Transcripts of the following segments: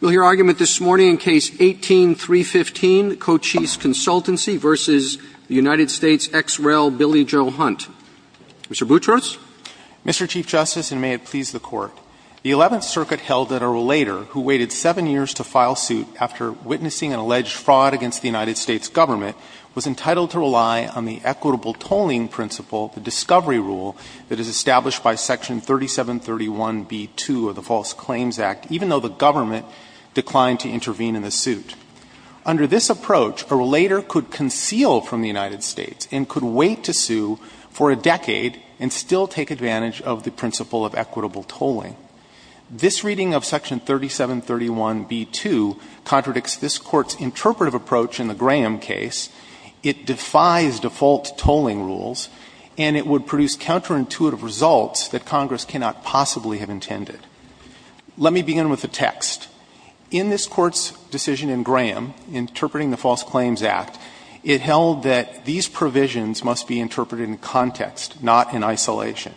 We'll hear argument this morning in Case 18-315, Cochise Consultancy v. United States, ex rel. Billy Joe Hunt. Mr. Boutrous? Mr. Chief Justice, and may it please the Court, the Eleventh Circuit held that a relator who waited seven years to file suit after witnessing an alleged fraud against the United States government was entitled to rely on the equitable tolling principle, the discovery rule, that is established by Section 3731b-2 of the False Claims Act, even though the government declined to intervene in the suit. Under this approach, a relator could conceal from the United States and could wait to sue for a decade and still take advantage of the principle of equitable tolling. This reading of Section 3731b-2 contradicts this Court's interpretive approach in the Graham case. It defies default tolling rules, and it would produce counterintuitive results that Congress cannot possibly have intended. Let me begin with the text. In this Court's decision in Graham, interpreting the False Claims Act, it held that these provisions must be interpreted in context, not in isolation.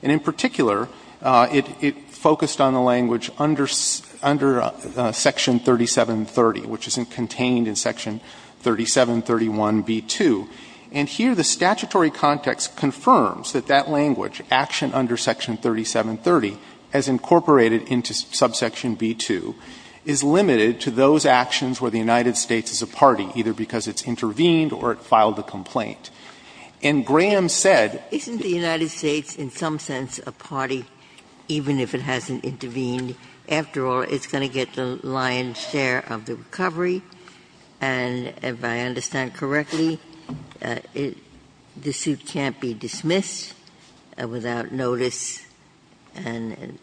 And in particular, it focused on the language under Section 3730, which is contained in Section 3731b-2. And here the statutory context confirms that that language, action under Section 3730, as incorporated into subsection b-2, is limited to those actions where the United States is a party, either because it's intervened or it filed a complaint. And Graham said Ginsburg. Isn't the United States in some sense a party, even if it hasn't intervened? After all, it's going to get the lion's share of the recovery. And if I understand correctly, the suit can't be dismissed without notice and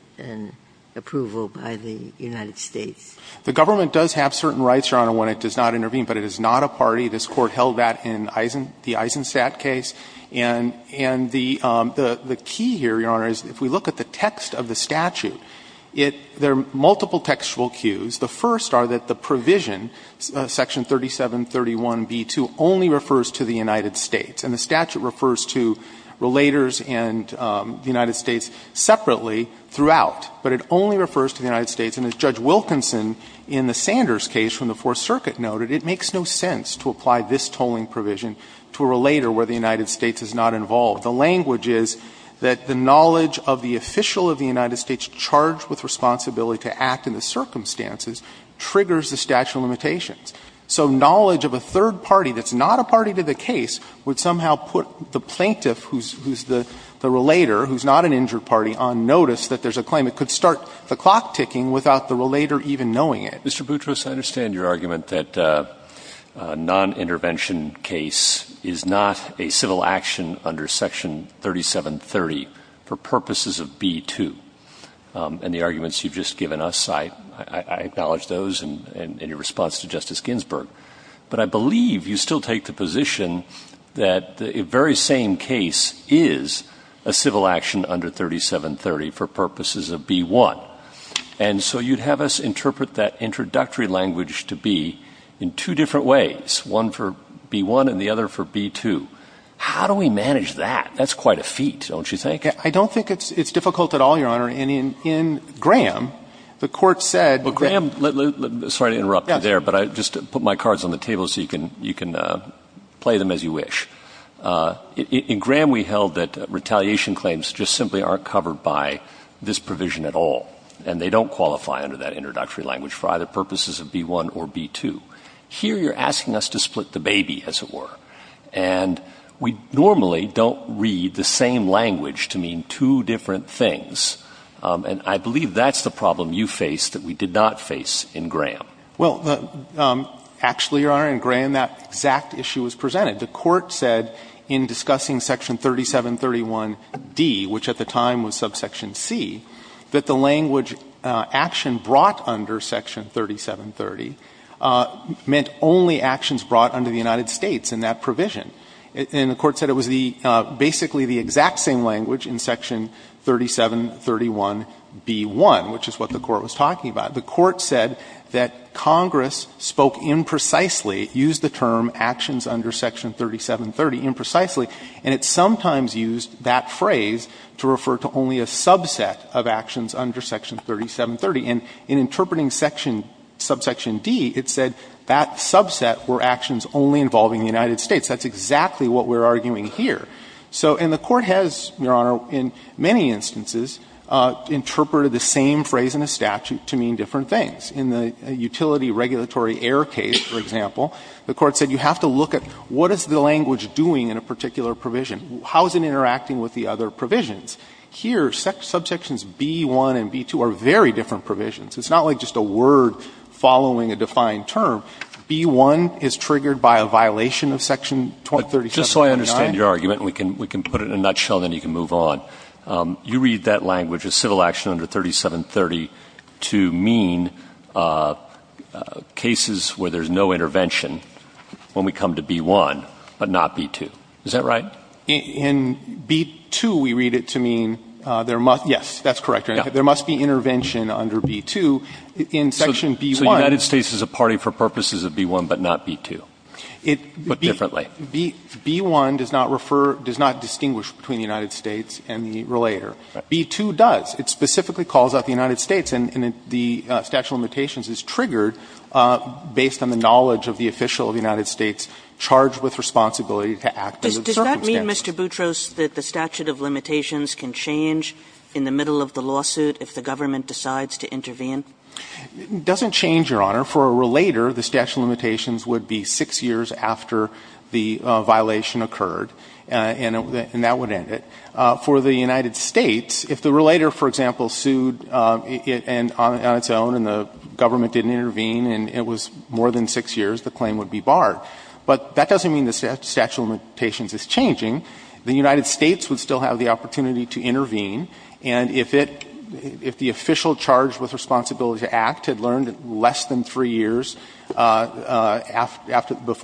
approval by the United States. The government does have certain rights, Your Honor, when it does not intervene, but it is not a party. This Court held that in Eisen Stat case. And the key here, Your Honor, is if we look at the text of the statute, there are provisions, Section 3731b-2, only refers to the United States. And the statute refers to relators and the United States separately throughout. But it only refers to the United States. And as Judge Wilkinson in the Sanders case from the Fourth Circuit noted, it makes no sense to apply this tolling provision to a relator where the United States is not involved. The language is that the knowledge of the official of the United States charged with responsibility to act in the circumstances triggers the statute of limitations. So knowledge of a third party that's not a party to the case would somehow put the plaintiff who's the relator, who's not an injured party, on notice that there's a claim. It could start the clock ticking without the relator even knowing it. Mr. Boutrous, I understand your argument that a nonintervention case is not a civil action under Section 3730 for purposes of b-2. And the arguments you've just given us, I acknowledge those in your response to Justice Ginsburg. But I believe you still take the position that the very same case is a civil action under 3730 for purposes of b-1. And so you'd have us interpret that introductory language to b in two different ways, one for b-1 and the other for b-2. How do we manage that? That's quite a feat, don't you think? I don't think it's difficult at all, Your Honor. And in Graham, the Court said that the law is not a civil action under 3730 for purposes of b-1. In Graham, we held that retaliation claims just simply aren't covered by this provision at all, and they don't qualify under that introductory language for either purposes of b-1 or b-2. Here, you're asking us to split the baby, as it were, and we normally don't read the same language to mean two different things. And I believe that's the problem you face that we did not face in Graham. Well, actually, Your Honor, in Graham, that exact issue was presented. The Court said in discussing Section 3731d, which at the time was subsection c, that the language action brought under Section 3730 meant only actions brought under the United States in that provision. And the Court said it was the – basically the exact same language in Section 3731b-1, which is what the Court was talking about. The Court said that Congress spoke imprecisely, used the term actions under Section 3730 imprecisely, and it sometimes used that phrase to refer to only a subset of actions under Section 3730. And in interpreting section – subsection d, it said that subset were actions only involving the United States. That's exactly what we're arguing here. So – and the Court has, Your Honor, in many instances interpreted the same phrase in a statute to mean different things. In the utility regulatory error case, for example, the Court said you have to look at what is the language doing in a particular provision, how is it interacting with the other provisions. Here, subsections b-1 and b-2 are very different provisions. It's not like just a word following a defined term. b-1 is triggered by a violation of Section 3739. But just so I understand your argument, and we can put it in a nutshell, then you can move on. You read that language as civil action under 3730 to mean cases where there's no intervention when we come to b-1, but not b-2. Is that right? In b-2, we read it to mean there must – yes, that's correct, Your Honor. There must be intervention under b-2 in Section b-1. So the United States is a party for purposes of b-1, but not b-2, but differently. b-1 does not refer – does not distinguish between the United States and the relator. b-2 does. It specifically calls out the United States, and the statute of limitations is triggered based on the knowledge of the official of the United States charged with responsibility to act under the circumstances. Does that mean, Mr. Boutros, that the statute of limitations can change in the middle of the lawsuit if the government decides to intervene? It doesn't change, Your Honor. For a relator, the statute of limitations would be 6 years after the violation occurred, and that would end it. For the United States, if the relator, for example, sued on its own and the government didn't intervene and it was more than 6 years, the claim would be barred. But that doesn't mean the statute of limitations is changing. The United States would still have the opportunity to intervene, and if it – if the official charged with responsibility to act had learned in less than 3 years before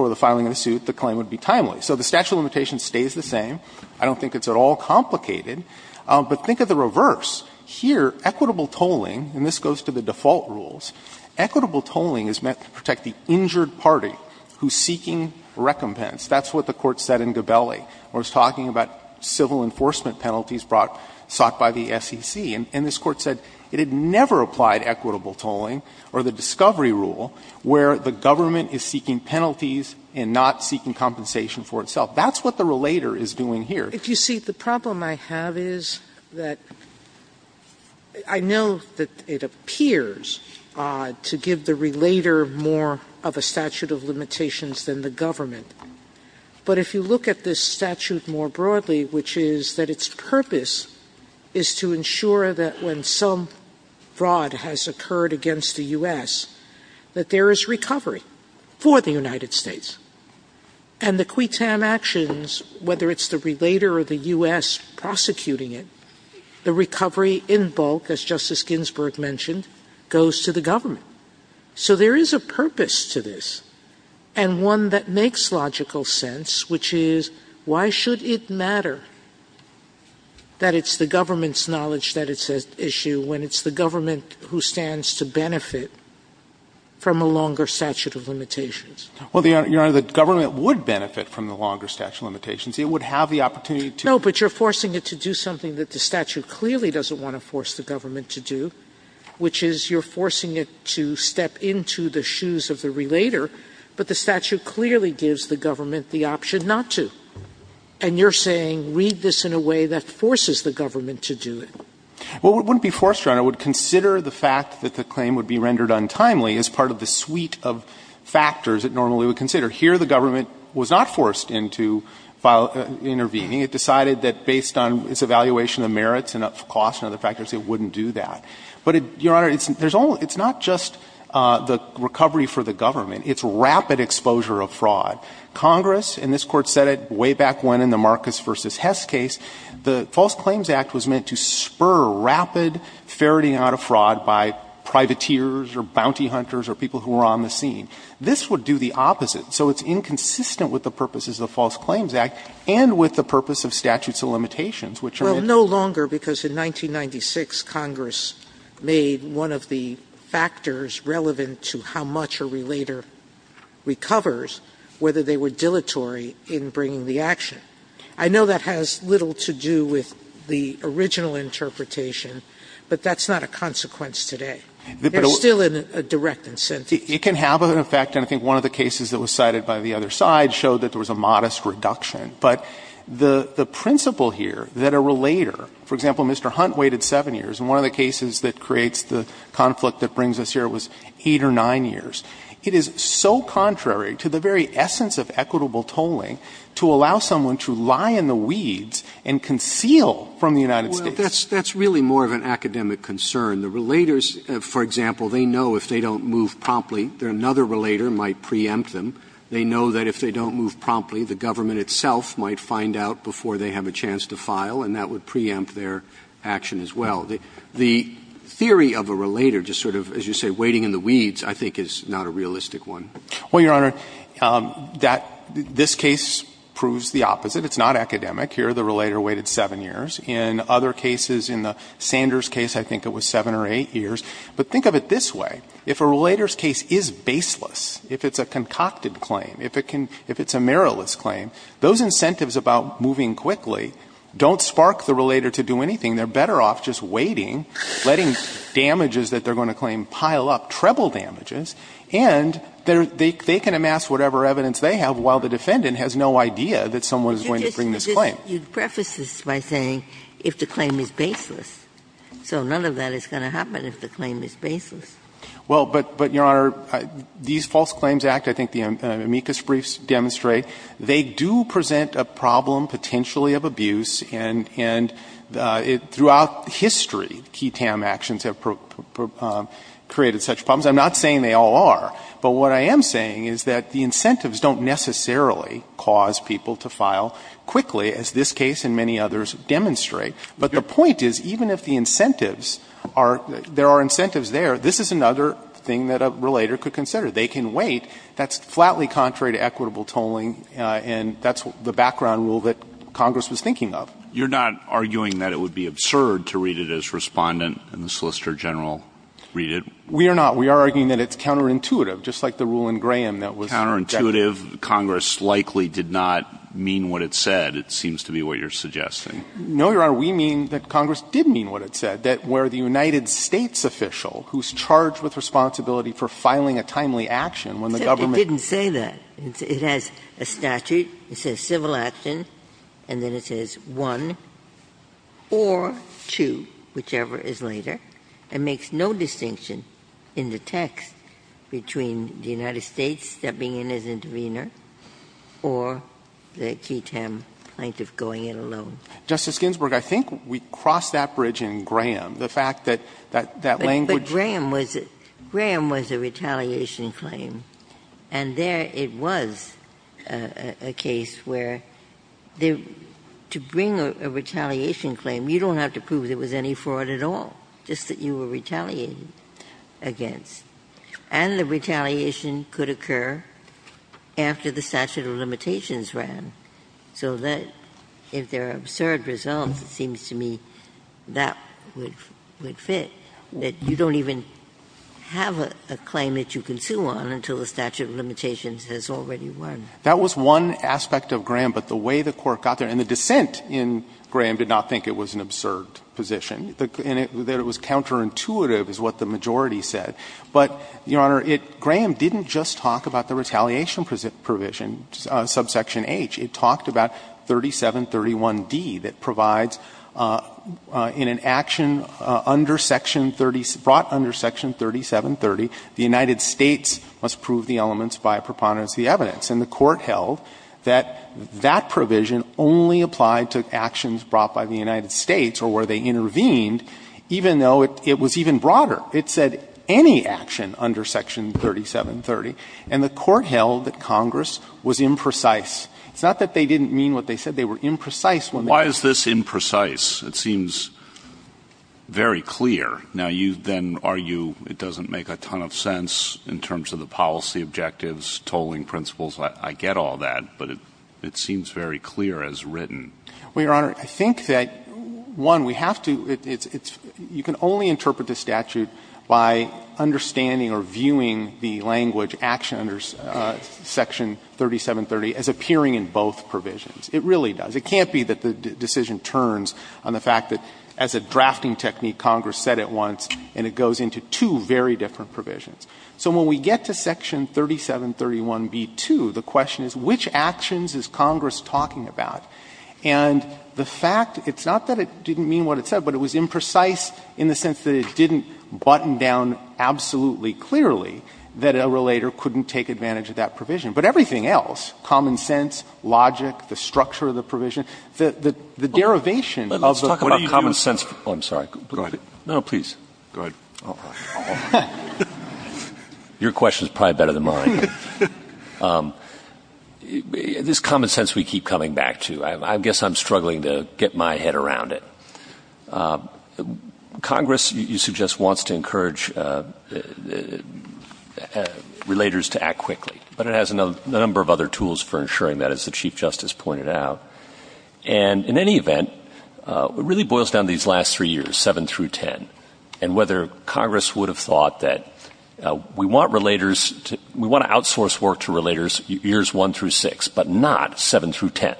the filing of the suit, the claim would be timely. So the statute of limitations stays the same. I don't think it's at all complicated. But think of the reverse. Here, equitable tolling, and this goes to the default rules, equitable tolling is meant to protect the injured party who is seeking recompense. That's what the Court said in Gabelli when it was talking about civil enforcement penalties brought – sought by the SEC. And this Court said it had never applied equitable tolling or the discovery rule where the government is seeking penalties and not seeking compensation for itself. That's what the relator is doing here. Sotomayor, if you see, the problem I have is that I know that it appears to give the relator more of a statute of limitations than the government. But if you look at this statute more broadly, which is that its purpose is to ensure that when some fraud has occurred against the U.S., that there is recovery for the United States, and the quitam actions, whether it's the relator or the U.S. prosecuting it, the recovery in bulk, as Justice Ginsburg mentioned, goes to the government. So there is a purpose to this, and one that makes logical sense, which is, why should it matter that it's the government's knowledge that it's an issue when it's the government who stands to benefit from a longer statute of limitations? Well, Your Honor, the government would benefit from the longer statute of limitations. It would have the opportunity to do that. No, but you're forcing it to do something that the statute clearly doesn't want to force the government to do, which is you're forcing it to step into the shoes of the relator. But the statute clearly gives the government the option not to. And you're saying, read this in a way that forces the government to do it. Well, it wouldn't be forced, Your Honor. It would consider the fact that the claim would be rendered untimely as part of the suite of factors it normally would consider. Here, the government was not forced into intervening. It decided that based on its evaluation of merits and of costs and other factors, it wouldn't do that. But, Your Honor, it's not just the recovery for the government. It's rapid exposure of fraud. Congress, and this Court said it way back when in the Marcus v. Hess case, the False Claims Act was meant to spur rapid ferreting out of fraud by privateers or bounty hunters or people who were on the scene. This would do the opposite. So it's inconsistent with the purposes of the False Claims Act and with the purpose of statute of limitations, which are meant to do that. Well, no longer, because in 1996, Congress made one of the factors relevant to how much a relater recovers, whether they were dilatory in bringing the action. I know that has little to do with the original interpretation, but that's not a consequence today. They're still a direct incentive. It can have an effect, and I think one of the cases that was cited by the other side showed that there was a modest reduction. But the principle here that a relater, for example, Mr. Hunt waited 7 years, and one of the cases that creates the conflict that brings us here was 8 or 9 years, it is so contrary to the very essence of equitable tolling to allow someone to lie in the weeds and conceal from the United States. Well, that's really more of an academic concern. The relaters, for example, they know if they don't move promptly, another relater might preempt them. They know that if they don't move promptly, the government itself might find out before they have a chance to file, and that would preempt their action as well. The theory of a relater just sort of, as you say, waiting in the weeds, I think, is not a realistic one. Well, Your Honor, that this case proves the opposite. It's not academic. Here the relater waited 7 years. In other cases, in the Sanders case, I think it was 7 or 8 years. But think of it this way. If a relater's case is baseless, if it's a concocted claim, if it can — if it's a meriless claim, those incentives about moving quickly don't spark the relater to do anything. They're better off just waiting, letting damages that they're going to claim pile up, treble damages, and they can amass whatever evidence they have while the defendant has no idea that someone is going to bring this claim. You preface this by saying, if the claim is baseless. So none of that is going to happen if the claim is baseless. Well, but, Your Honor, these false claims act, I think the amicus briefs demonstrate. They do present a problem potentially of abuse, and throughout history, key TAM actions have created such problems. I'm not saying they all are, but what I am saying is that the incentives don't necessarily cause people to file quickly, as this case and many others demonstrate. But the point is, even if the incentives are — there are incentives there, this is another thing that a relater could consider. They can wait. That's flatly contrary to equitable tolling, and that's the background rule that Congress was thinking of. You're not arguing that it would be absurd to read it as Respondent and the Solicitor General read it? We are not. We are arguing that it's counterintuitive, just like the rule in Graham that was counterintuitive. Congress likely did not mean what it said. It seems to be what you're suggesting. No, Your Honor. We mean that Congress did mean what it said, that where the United States official, who's charged with responsibility for filing a timely action when the government It didn't say that. It has a statute. It says civil action, and then it says one or two, whichever is later. It makes no distinction in the text between the United States stepping in as intervener or the G-TAM plaintiff going it alone. Justice Ginsburg, I think we crossed that bridge in Graham. The fact that that language But Graham was a retaliation claim, and there it was a case where to bring a retaliation claim, you don't have to prove there was any fraud at all, just that you were retaliated against. And the retaliation could occur after the statute of limitations ran. So that, if there are absurd results, it seems to me that would fit, that you don't even have a claim that you can sue on until the statute of limitations has already won. That was one aspect of Graham, but the way the Court got there, and the dissent in Graham did not think it was an absurd position, that it was counterintuitive is what the majority said. But, Your Honor, Graham didn't just talk about the retaliation provision, subsection H. It talked about 3731d, that provides in an action under section 30, brought under section 3730, the United States must prove the elements by a preponderance of the evidence. And the Court held that that provision only applied to actions brought by the United States or where they intervened, even though it was even broader. It said any action under section 3730, and the Court held that Congress was imprecise It's not that they didn't mean what they said. They were imprecise. When they Why is this imprecise? It seems very clear. Now, you then argue it doesn't make a ton of sense in terms of the policy objectives, tolling principles. I get all that, but it seems very clear as written. Well, Your Honor, I think that, one, we have to you can only interpret the statute by understanding or viewing the language, action under section 3730, as appearing in both provisions. It really does. It can't be that the decision turns on the fact that, as a drafting technique, Congress said it once, and it goes into two very different provisions. So when we get to section 3731b2, the question is which actions is Congress talking about? And the fact, it's not that it didn't mean what it said, but it was imprecise in the sense that it didn't button down absolutely clearly that a relator couldn't take advantage of that provision. But everything else, common sense, logic, the structure of the provision, the derivation of the Let's talk about common sense. Oh, I'm sorry. No, no, please. Go ahead. Your question is probably better than mine. This common sense we keep coming back to, I guess I'm struggling to get my head around it. Congress, you suggest, wants to encourage relators to act quickly, but it has a number of other tools for ensuring that, as the Chief Justice pointed out. And in any event, it really boils down to these last three years, seven through 10, and whether Congress would have thought that we want relators to, we want to outsource work to relators years one through six, but not seven through 10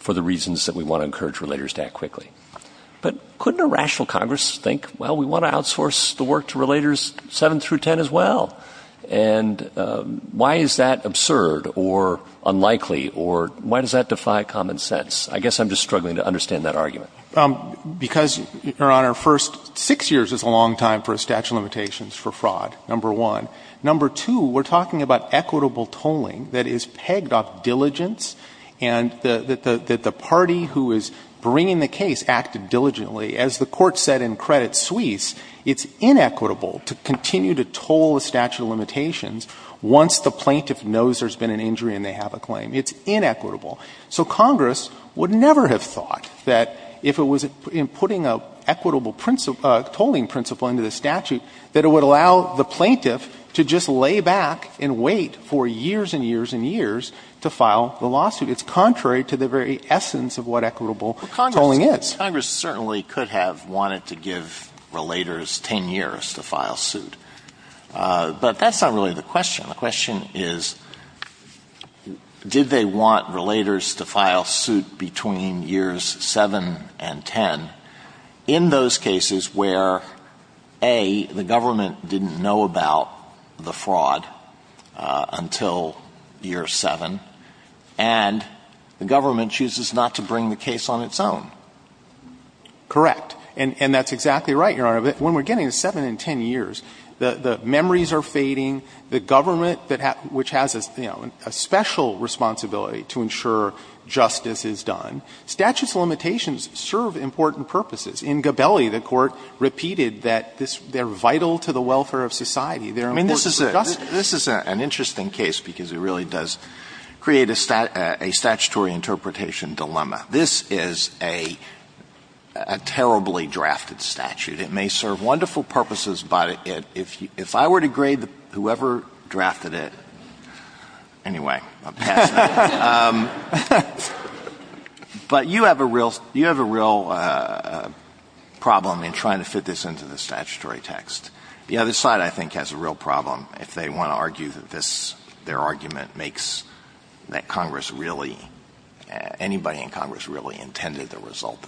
for the reasons that we want to encourage relators to act quickly. But couldn't a rational Congress think, well, we want to outsource the work to relators seven through 10 as well. And why is that absurd or unlikely, or why does that defy common sense? I guess I'm just struggling to understand that argument. Because, Your Honor, first, six years is a long time for a statute of limitations for fraud, number one. Number two, we're talking about equitable tolling that is pegged off diligence and that the party who is bringing the case acted diligently. As the Court said in Credit Suisse, it's inequitable to continue to toll a statute of limitations once the plaintiff knows there's been an injury and they have a claim. It's inequitable. So Congress would never have thought that if it was in putting a equitable tolling principle into the statute, that it would allow the plaintiff to just lay back and to file the lawsuit. It's contrary to the very essence of what equitable tolling is. Congress certainly could have wanted to give relators 10 years to file suit. But that's not really the question. The question is, did they want relators to file suit between years seven and 10 in those cases where, A, the government didn't know about the fraud until year seven, and the government chooses not to bring the case on its own? Correct. And that's exactly right, Your Honor. When we're getting to seven and 10 years, the memories are fading, the government that has a special responsibility to ensure justice is done. Statutes of limitations serve important purposes. In Gabelli, the Court repeated that they're vital to the welfare of society. They're important for justice. This is an interesting case because it really does create a statutory interpretation dilemma. This is a terribly drafted statute. It may serve wonderful purposes, but if I were to grade whoever drafted it, anyway, I'm passing it. But you have a real problem in trying to fit this into the statutory text. The other side, I think, has a real problem if they want to argue that their argument makes that Congress really, anybody in Congress really intended the result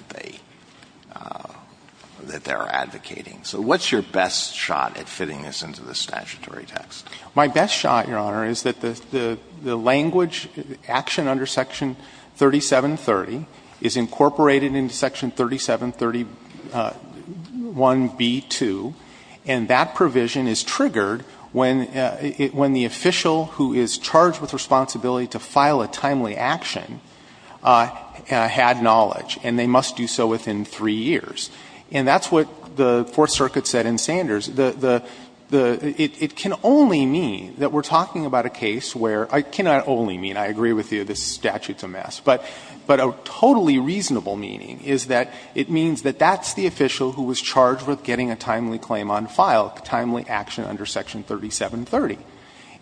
that they're advocating. So what's your best shot at fitting this into the statutory text? My best shot, Your Honor, is that the language action under Section 3730 is incorporated into Section 3731b-2, and that provision is triggered when the official who is charged with responsibility to file a timely action had knowledge, and they must do so within three years. And that's what the Fourth Circuit said in Sanders. It can only mean that we're talking about a case where — it cannot only mean, I agree with you, this statute's a mess, but a totally reasonable meaning is that it means that that's the official who was charged with getting a timely claim on file, a timely action under Section 3730.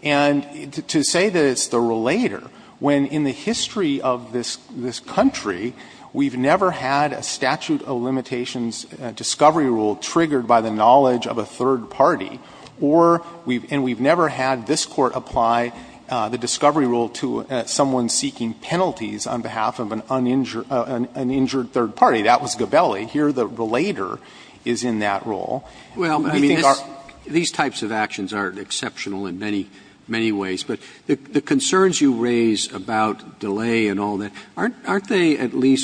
And to say that it's the relator, when in the history of this country, we've never had a statute of limitations discovery rule triggered by the knowledge of a third party, or we've — and we've never had this Court apply the discovery rule to someone seeking penalties on behalf of an uninjured — an injured third party, that was Gabelli. Here the relator is in that role. I mean, these are — Well, I mean, these types of actions aren't exceptional in many, many ways, but the question is, are they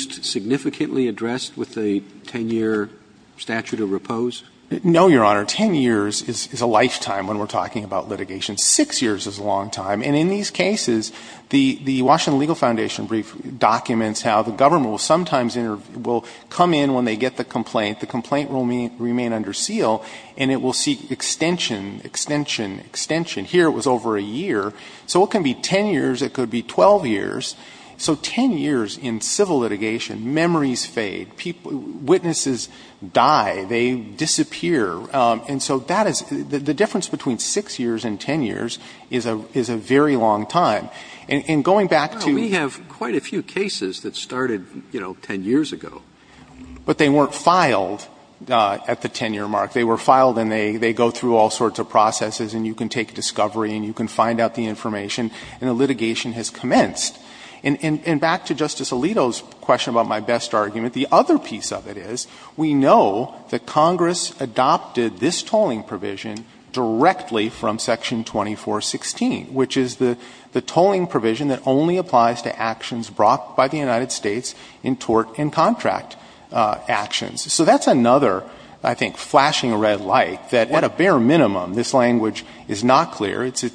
sufficiently addressed with a 10-year statute of repose? No, Your Honor. Ten years is a lifetime when we're talking about litigation. Six years is a long time. And in these cases, the Washington Legal Foundation brief documents how the government will sometimes — will come in when they get the complaint, the complaint will remain under seal, and it will seek extension, extension, extension. Here it was over a year. So it can be 10 years. It could be 12 years. So 10 years in civil litigation, memories fade. People — witnesses die. They disappear. And so that is — the difference between 6 years and 10 years is a — is a very long time. And going back to — Well, we have quite a few cases that started, you know, 10 years ago. But they weren't filed at the 10-year mark. They were filed, and they — they go through all sorts of processes, and you can take discovery, and you can find out the information, and the litigation has commenced. And back to Justice Alito's question about my best argument, the other piece of it is we know that Congress adopted this tolling provision directly from Section 2416, which is the tolling provision that only applies to actions brought by the United States in tort and contract actions. So that's another, I think, flashing red light, that at a bare minimum, this language is not clear. It's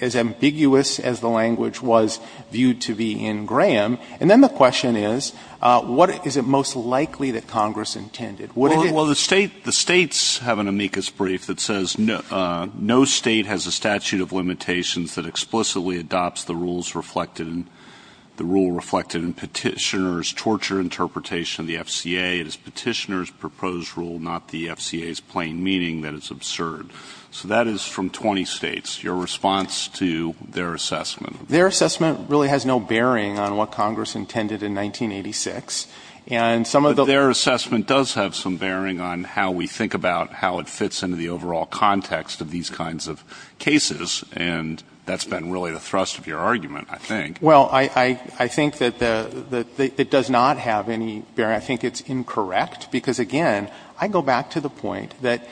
as ambiguous as the language was viewed to be in Graham. And then the question is, what is it most likely that Congress intended? What did it — Well, the State — the States have an amicus brief that says no State has a statute of limitations that explicitly adopts the rules reflected in — the rule reflected in Petitioner's torture interpretation of the FCA. It is Petitioner's proposed rule, not the FCA's plain meaning, that it's absurd. So that is from 20 States. Your response to their assessment? Their assessment really has no bearing on what Congress intended in 1986. And some of the — Their assessment does have some bearing on how we think about how it fits into the overall context of these kinds of cases, and that's been really the thrust of your argument, I think. Well, I think that the — it does not have any bearing. I think it's incorrect, because, again, I go back to the point that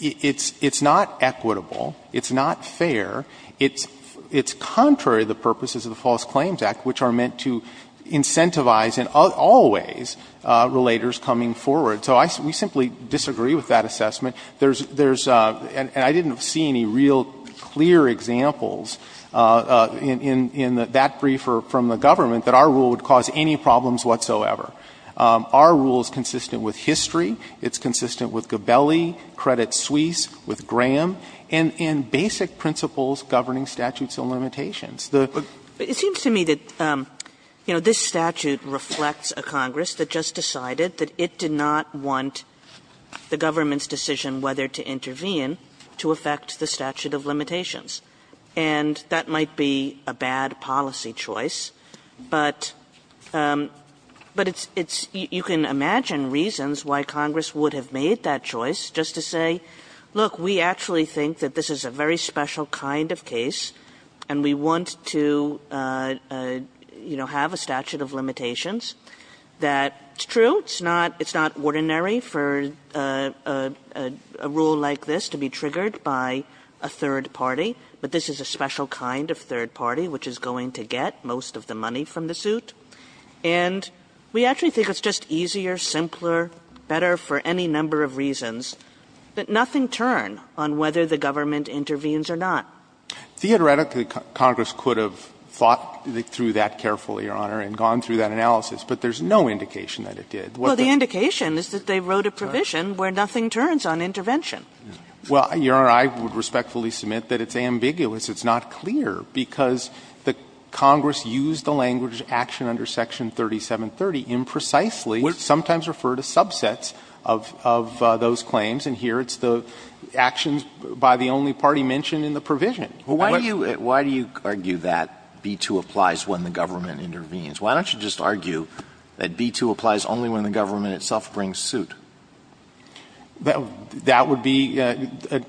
it's not equitable, it's not fair, it's — it's contrary to the purposes of the False Claims Act, which are meant to incentivize in all ways relators coming forward. So I — we simply disagree with that assessment. There's — there's — and I didn't see any real clear examples in — in that briefer from the government that our rule would cause any problems whatsoever. Our rule is consistent with history. And in basic principles governing statutes of limitations, the — But it seems to me that, you know, this statute reflects a Congress that just decided that it did not want the government's decision whether to intervene to affect the statute of limitations. And that might be a bad policy choice, but — but it's — it's — you can imagine reasons why Congress would have made that choice just to say, look, we actually think that this is a very special kind of case, and we want to, you know, have a statute of limitations, that it's true, it's not — it's not ordinary for a rule like this to be triggered by a third party, but this is a special kind of third party which is going to get most of the money from the suit. And we actually think it's just easier, simpler, better for any number of reasons But nothing turned on whether the government intervenes or not. Theoretically, Congress could have thought through that carefully, Your Honor, and gone through that analysis, but there's no indication that it did. Well, the indication is that they wrote a provision where nothing turns on intervention. Well, Your Honor, I would respectfully submit that it's ambiguous, it's not clear, because the Congress used the language action under Section 3730 imprecisely, sometimes referred to subsets of those claims, and here it's the actions by the only party mentioned in the provision. But why do you — why do you argue that B-2 applies when the government intervenes? Why don't you just argue that B-2 applies only when the government itself brings suit? That would be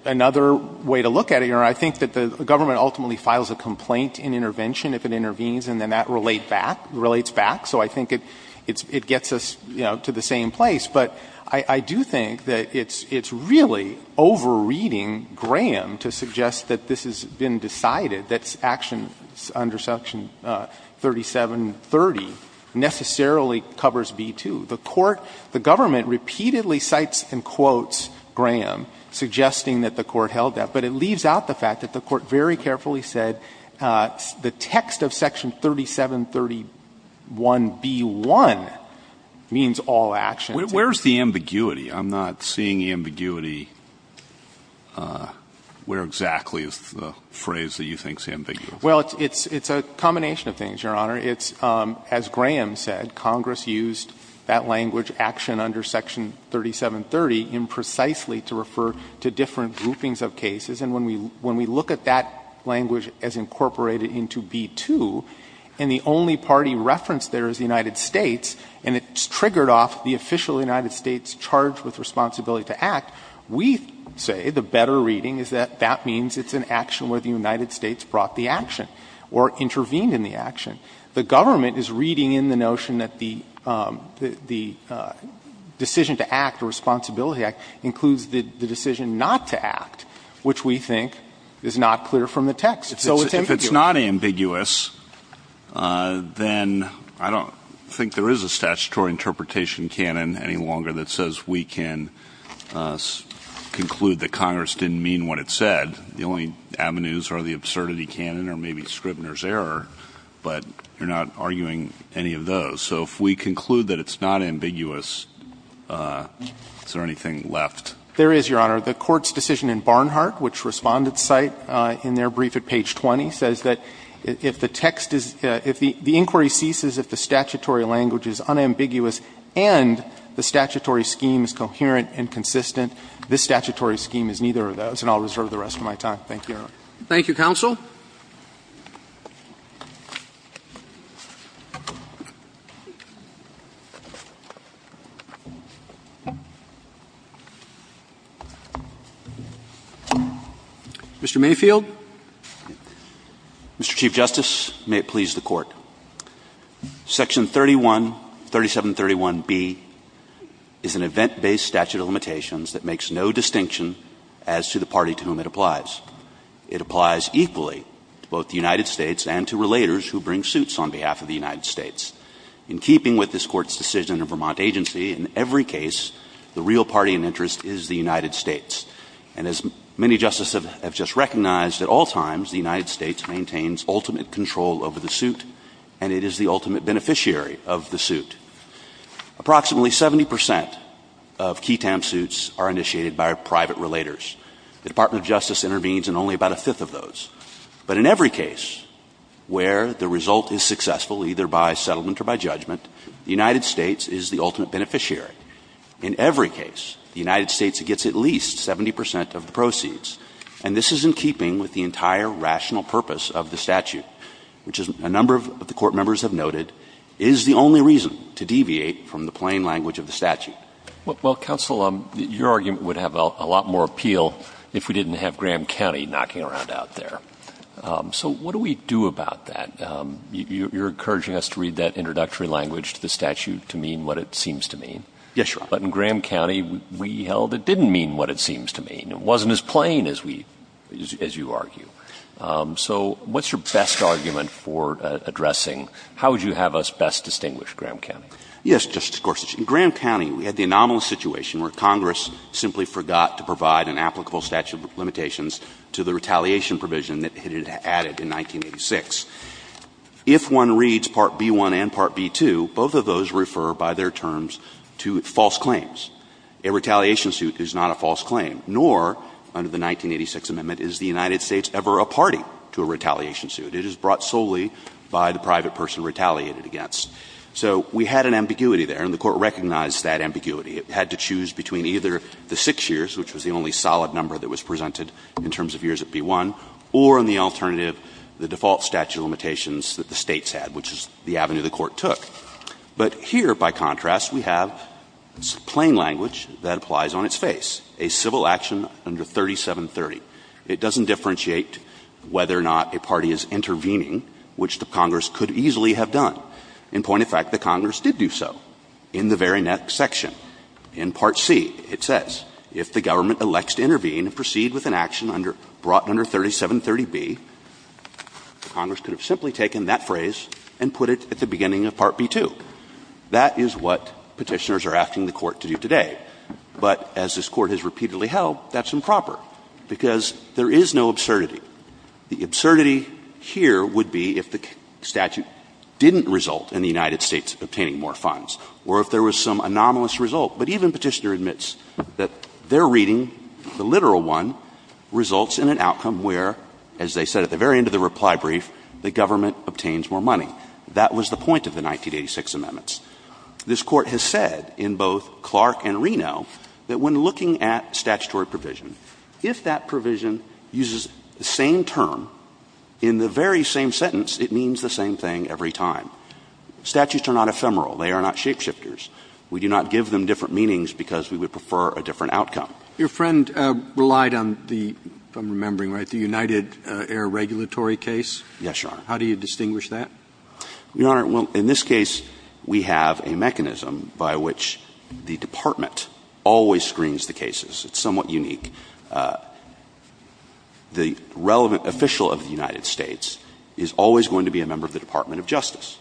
another way to look at it, Your Honor. I think that the government ultimately files a complaint in intervention if it intervenes, and then that relates back, so I think it gets us, you know, to the same place. But I do think that it's really over-reading Graham to suggest that this has been decided, that action under Section 3730 necessarily covers B-2. The court — the government repeatedly cites and quotes Graham, suggesting that the court held that. But it leaves out the fact that the court very carefully said the text of Section 3731b-1 means all actions. Where's the ambiguity? I'm not seeing ambiguity. Where exactly is the phrase that you think is ambiguous? Well, it's a combination of things, Your Honor. It's, as Graham said, Congress used that language action under Section 3730 imprecisely to refer to different groupings of cases. And when we look at that language as incorporated into B-2, and the only party referenced there is the United States, and it's triggered off the official United States charge with responsibility to act, we say the better reading is that that means it's an action where the United States brought the action or intervened in the action. The government is reading in the notion that the decision to act, the Responsibility Act, includes the decision not to act, which we think is not clear from the text. So it's ambiguous. If it's not ambiguous, then I don't think there is a statutory interpretation canon any longer that says we can conclude that Congress didn't mean what it said. The only avenues are the absurdity canon or maybe Scribner's error, but you're not arguing any of those. So if we conclude that it's not ambiguous, is there anything left? There is, Your Honor. The Court's decision in Barnhart, which Respondents cite in their brief at page 20, says that if the text is – if the inquiry ceases if the statutory language is unambiguous and the statutory scheme is coherent and consistent, this statutory scheme is neither of those, and I'll reserve the rest of my time. Thank you, Your Honor. Thank you, counsel. Mr. Mayfield. Mr. Chief Justice, may it please the Court. Section 313731B is an event-based statute of limitations that makes no distinction as to the party to whom it applies. It applies equally to both the United States and to relators who bring suits on behalf of the United States. In keeping with this Court's decision in Vermont Agency, in every case, the real party in interest is the United States. And as many Justices have just recognized, at all times the United States maintains ultimate control over the suit, and it is the ultimate beneficiary of the suit. Approximately 70 percent of KETAM suits are initiated by private relators. The Department of Justice intervenes in only about a fifth of those. But in every case where the result is successful, either by settlement or by judgment, the United States is the ultimate beneficiary. In every case, the United States gets at least 70 percent of the proceeds. And this is in keeping with the entire rational purpose of the statute, which, as a number of the Court members have noted, is the only reason to deviate from the plain language of the statute. Well, Counsel, your argument would have a lot more appeal if we didn't have Graham County knocking around out there. So what do we do about that? You're encouraging us to read that introductory language to the statute to mean what it seems to mean. Yes, Your Honor. But in Graham County, we held it didn't mean what it seems to mean. It wasn't as plain as we – as you argue. So what's your best argument for addressing – how would you have us best distinguish Graham County? Yes, Justice Gorsuch. In Graham County, we had the anomalous situation where Congress simply forgot to provide an applicable statute of limitations to the retaliation provision that it had added in 1986. If one reads Part B.1 and Part B.2, both of those refer by their terms to false claims. A retaliation suit is not a false claim, nor, under the 1986 amendment, is the United States ever a party to a retaliation suit. It is brought solely by the private person retaliated against. So we had an ambiguity there. And the Court recognized that ambiguity. It had to choose between either the 6 years, which was the only solid number that was presented in terms of years at B.1, or, on the alternative, the default statute of limitations that the States had, which is the avenue the Court took. But here, by contrast, we have plain language that applies on its face, a civil action under 3730. It doesn't differentiate whether or not a party is intervening, which the Congress could easily have done. In point of fact, the Congress did do so. In the very next section, in Part C, it says, if the government elects to intervene and proceed with an action under 3730B, Congress could have simply taken that phrase and put it at the beginning of Part B.2. That is what Petitioners are asking the Court to do today. But as this Court has repeatedly held, that's improper, because there is no absurdity. The absurdity here would be if the statute didn't result in the United States obtaining more funds. Or if there was some anomalous result. But even Petitioner admits that their reading, the literal one, results in an outcome where, as they said at the very end of the reply brief, the government obtains more money. That was the point of the 1986 amendments. This Court has said in both Clark and Reno that when looking at statutory provision, if that provision uses the same term in the very same sentence, it means the same thing every time. Statutes are not ephemeral. They are not shapeshifters. We do not give them different meanings because we would prefer a different outcome. Roberts. Your friend relied on the, if I'm remembering right, the United Air Regulatory case. Yes, Your Honor. How do you distinguish that? Your Honor, well, in this case, we have a mechanism by which the Department always screens the cases. It's somewhat unique. The relevant official of the United States is always going to be a member of the Department of Justice.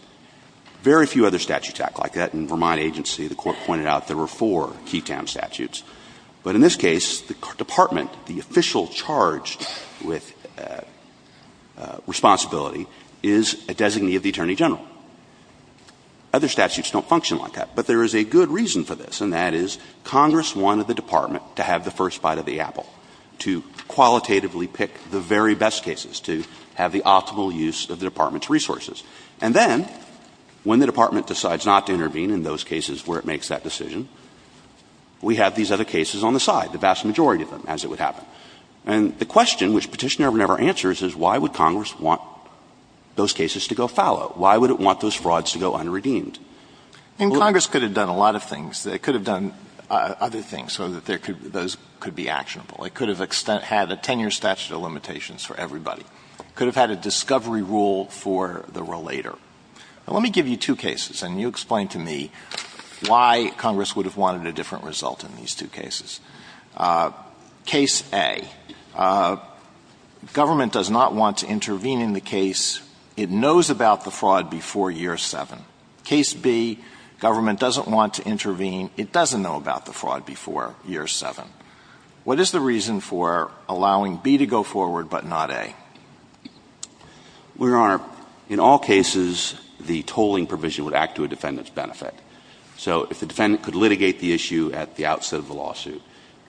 Very few other statutes act like that. In Vermont Agency, the Court pointed out there were four key town statutes. But in this case, the Department, the official charged with responsibility is a designee of the Attorney General. Other statutes don't function like that. But there is a good reason for this, and that is Congress wanted the Department to have the first bite of the apple, to qualitatively pick the very best cases, to have the optimal use of the Department's resources. And then, when the Department decides not to intervene in those cases where it makes that decision, we have these other cases on the side, the vast majority of them, as it would happen. And the question, which Petitioner never answers, is why would Congress want those cases to go fallow? Why would it want those frauds to go unredeemed? And Congress could have done a lot of things. It could have done other things so that those could be actionable. It could have had a 10-year statute of limitations for everybody. It could have had a discovery rule for the relator. Now, let me give you two cases, and you explain to me why Congress would have wanted a different result in these two cases. Case A, government does not want to intervene in the case, it knows about the fraud before year 7. Case B, government doesn't want to intervene, it doesn't know about the fraud before year 7. What is the reason for allowing B to go forward but not A? Your Honor, in all cases, the tolling provision would act to a defendant's benefit. So if the defendant could litigate the issue at the outset of the lawsuit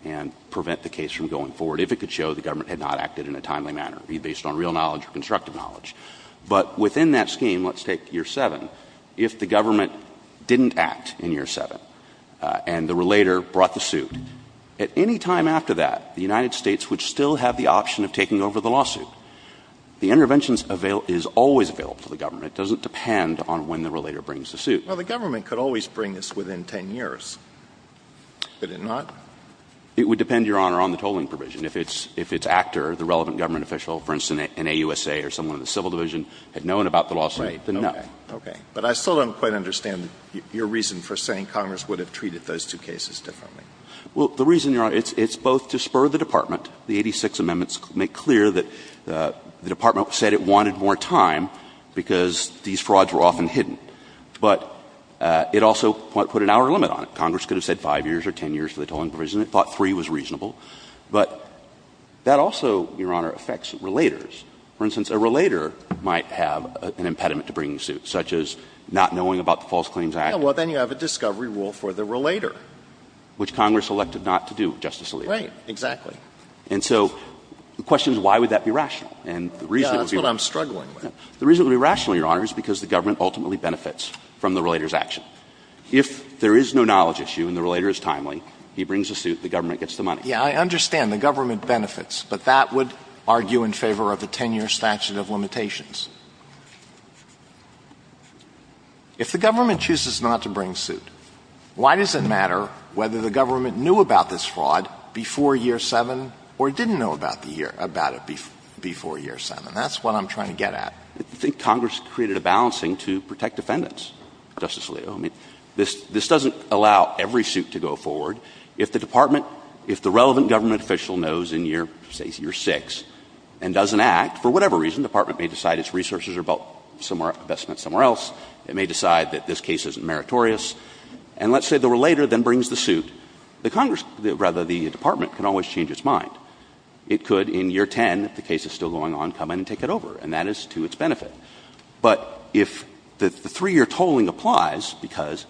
and prevent the case from going forward, if it could show the government had not acted in a timely manner, be it based on real knowledge or constructive knowledge. But within that scheme, let's take year 7, if the government didn't act in year 7 and the relator brought the suit, at any time after that, the United States would still have the option of taking over the lawsuit. The intervention is always available to the government. It doesn't depend on when the relator brings the suit. Alitono, the government could always bring this within 10 years, could it not? It would depend, Your Honor, on the tolling provision. If its actor, the relevant government official, for instance, an AUSA or someone in the civil division, had known about the lawsuit, then no. Right, okay. But I still don't quite understand your reason for saying Congress would have treated those two cases differently. Well, the reason, Your Honor, it's both to spur the Department, the 86 amendments to make clear that the Department said it wanted more time because these frauds were often hidden. But it also put an hour limit on it. Congress could have said 5 years or 10 years for the tolling provision. It thought 3 was reasonable. But that also, Your Honor, affects relators. For instance, a relator might have an impediment to bringing a suit, such as not knowing about the False Claims Act. Well, then you have a discovery rule for the relator. Which Congress elected not to do, Justice Alito. Right, exactly. And so the question is, why would that be rational? And the reason it would be rational, Your Honor, is because the government ultimately benefits from the relator's action. If there is no knowledge issue and the relator is timely, he brings a suit, the government gets the money. Yeah, I understand the government benefits, but that would argue in favor of a 10-year statute of limitations. If the government chooses not to bring suit, why does it matter whether the government knew about this fraud before year 7 or didn't know about it before year 7? That's what I'm trying to get at. I think Congress created a balancing to protect defendants, Justice Alito. I mean, this doesn't allow every suit to go forward. If the department, if the relevant government official knows in, say, year 6 and doesn't act, for whatever reason, the department may decide its resources are about somewhere else, it may decide that this case isn't meritorious. And let's say the relator then brings the suit. The Congress, rather, the department can always change its mind. It could, in year 10, if the case is still going on, come in and take it over, and that is to its benefit. But if the three-year tolling applies, because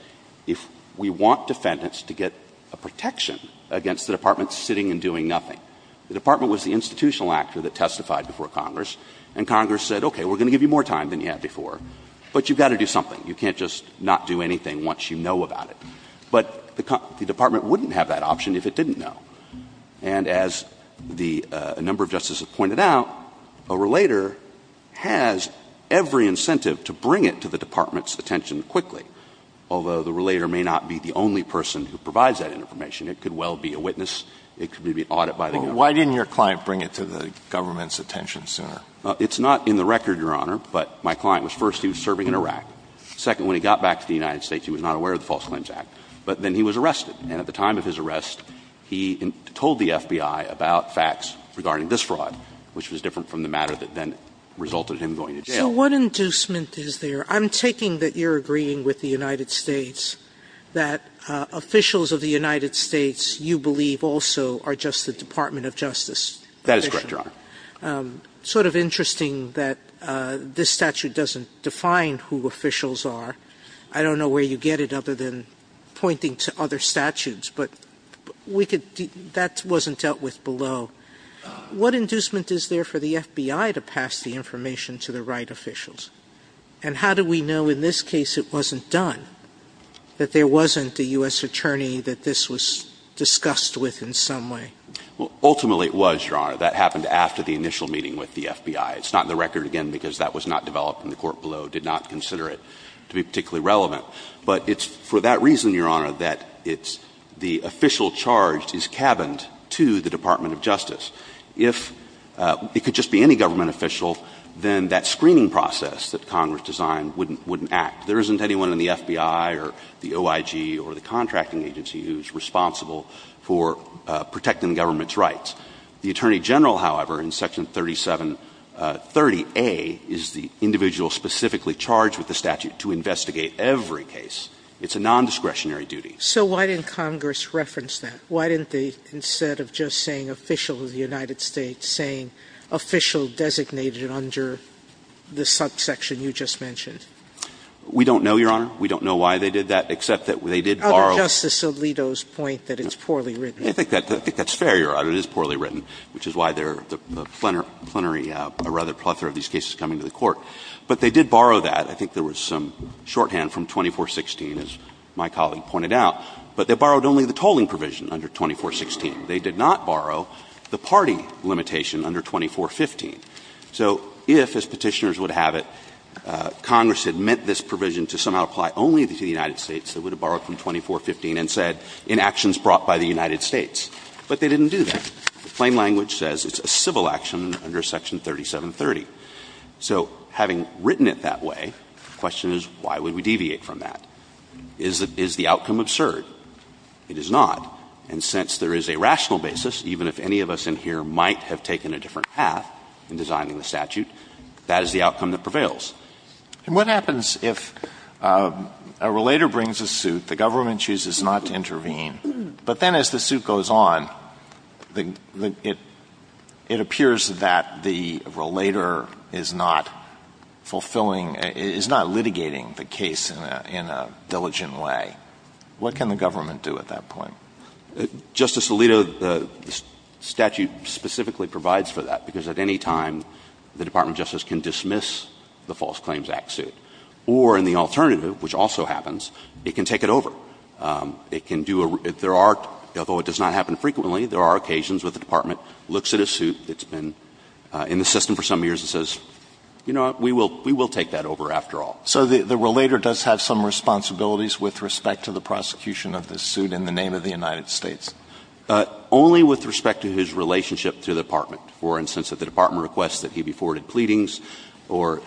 if we want defendants to get a protection against the department sitting and doing nothing, the department was the institutional actor that testified before Congress, and Congress said, okay, we're going to give you more time than you had before, but you've got to do something. You can't just not do anything once you know about it. But the department wouldn't have that option if it didn't know. And as the number of justices pointed out, a relator has every incentive to bring it to the department's attention quickly, although the relator may not be the only person who provides that information. It could well be a witness. It could be an audit by the government. But why didn't your client bring it to the government's attention, sir? It's not in the record, Your Honor, but my client was first, he was serving in Iraq. Second, when he got back to the United States, he was not aware of the False Claims Act, but then he was arrested. And at the time of his arrest, he told the FBI about facts regarding this fraud, which was different from the matter that then resulted in him going to jail. Sotomayor, what inducement is there? I'm taking that you're agreeing with the United States that officials of the United States, you believe, also are just the Department of Justice. That is correct, Your Honor. Sort of interesting that this statute doesn't define who officials are. I don't know where you get it other than pointing to other statutes, but that wasn't dealt with below. What inducement is there for the FBI to pass the information to the right officials? And how do we know in this case it wasn't done, that there wasn't a U.S. attorney that this was discussed with in some way? Well, ultimately it was, Your Honor. That happened after the initial meeting with the FBI. It's not in the record again because that was not developed and the court below did not consider it to be particularly relevant. But it's for that reason, Your Honor, that the official charged is cabined to the Department of Justice. If it could just be any government official, then that screening process that Congress designed wouldn't act. There isn't anyone in the FBI or the OIG or the contracting agency who's responsible for protecting the government's rights. The attorney general, however, in Section 3730A, is the individual specifically charged with the statute to investigate every case. It's a nondiscretionary duty. So why didn't Congress reference that? Why didn't they, instead of just saying official of the United States, saying official designated under the subsection you just mentioned? We don't know, Your Honor. We don't know why they did that, except that they did borrow – Justice Alito's point that it's poorly written. I think that's fair, Your Honor. It is poorly written, which is why there are a plenary – a rather plethora of these cases coming to the Court. But they did borrow that. I think there was some shorthand from 2416, as my colleague pointed out. But they borrowed only the tolling provision under 2416. They did not borrow the party limitation under 2415. So if, as Petitioners would have it, Congress had meant this provision to somehow apply only to the United States, they would have borrowed from 2415 and said, in actions brought by the United States. But they didn't do that. The plain language says it's a civil action under Section 3730. So having written it that way, the question is why would we deviate from that? Is the outcome absurd? It is not. And since there is a rational basis, even if any of us in here might have taken a different path in designing the statute, that is the outcome that prevails. And what happens if a relator brings a suit, the government chooses not to intervene, but then as the suit goes on, it appears that the relator is not fulfilling — is not litigating the case in a diligent way? What can the government do at that point? Justice Alito, the statute specifically provides for that, because at any time, the Department of Justice can dismiss the False Claims Act suit. Or in the alternative, which also happens, it can take it over. It can do a — there are — although it does not happen frequently, there are occasions where the Department looks at a suit that's been in the system for some years and says, you know what, we will take that over after all. So the relator does have some responsibilities with respect to the prosecution of this suit in the name of the United States? Only with respect to his relationship to the Department. For instance, if the Department requests that he be forwarded pleadings, or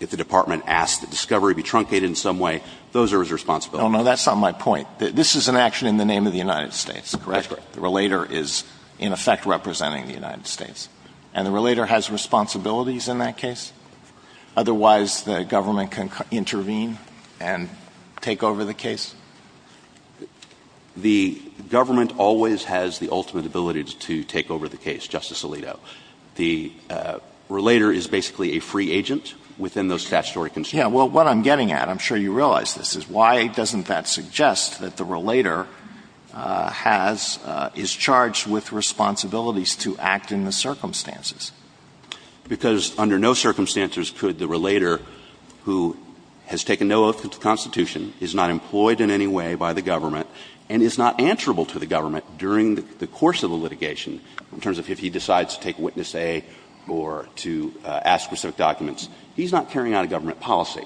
if the Department asks that discovery be truncated in some way, those are his responsibilities. No, no, that's not my point. This is an action in the name of the United States, correct? That's correct. The relator is, in effect, representing the United States. And the relator has responsibilities in that case? Otherwise, the government can intervene and take over the case? The government always has the ultimate ability to take over the case, Justice Alito. The relator is basically a free agent within those statutory constraints. Yes, well, what I'm getting at, I'm sure you realize this, is why doesn't that suggest that the relator has, is charged with responsibilities to act in the circumstances? Because under no circumstances could the relator, who has taken no oath to the Constitution, is not employed in any way by the government, and is not answerable to the government during the course of the litigation, in terms of if he decides to take witness A or to ask for specific documents. He's not carrying out a government policy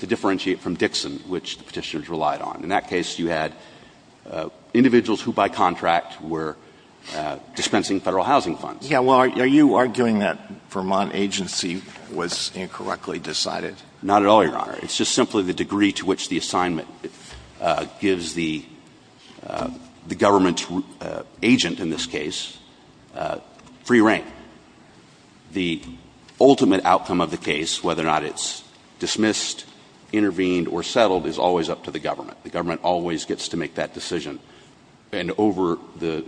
to differentiate from Dixon, which the Petitioners relied on. In that case, you had individuals who, by contract, were dispensing Federal housing funds. Yeah, well, are you arguing that Vermont agency was incorrectly decided? Not at all, Your Honor. It's just simply the degree to which the assignment gives the government agent, in this case, free reign. The ultimate outcome of the case, whether or not it's dismissed, intervened, or settled, is always up to the government. The government always gets to make that decision, and over the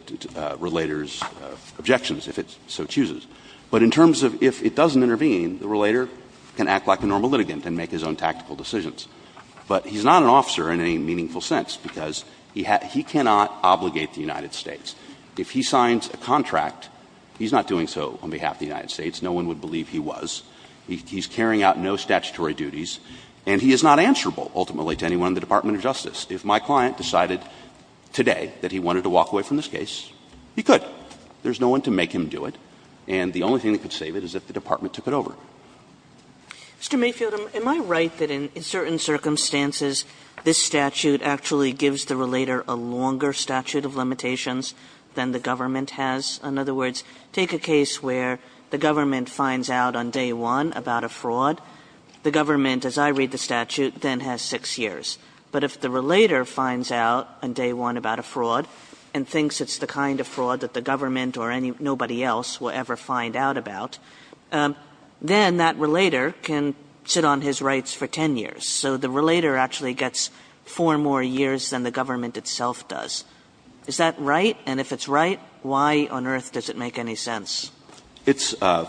relator's objections, if it so chooses. But in terms of if it doesn't intervene, the relator can act like a normal litigant and make his own tactical decisions. But he's not an officer in any meaningful sense, because he cannot obligate the United States. If he signs a contract, he's not doing so on behalf of the United States. No one would believe he was. He's carrying out no statutory duties, and he is not answerable, ultimately, to anyone in the Department of Justice. If my client decided today that he wanted to walk away from this case, he could. There's no one to make him do it, and the only thing that could save it is if the Department took it over. Mr. Mayfield, am I right that in certain circumstances, this statute actually gives the relator a longer statute of limitations than the government has? In other words, take a case where the government finds out on day one about a fraud. The government, as I read the statute, then has 6 years. But if the relator finds out on day one about a fraud and thinks it's the kind of fraud that the government or nobody else will ever find out about, then that relator can sit on his rights for 10 years. So the relator actually gets 4 more years than the government itself does. Is that right? And if it's right, why on earth does it make any sense? It's a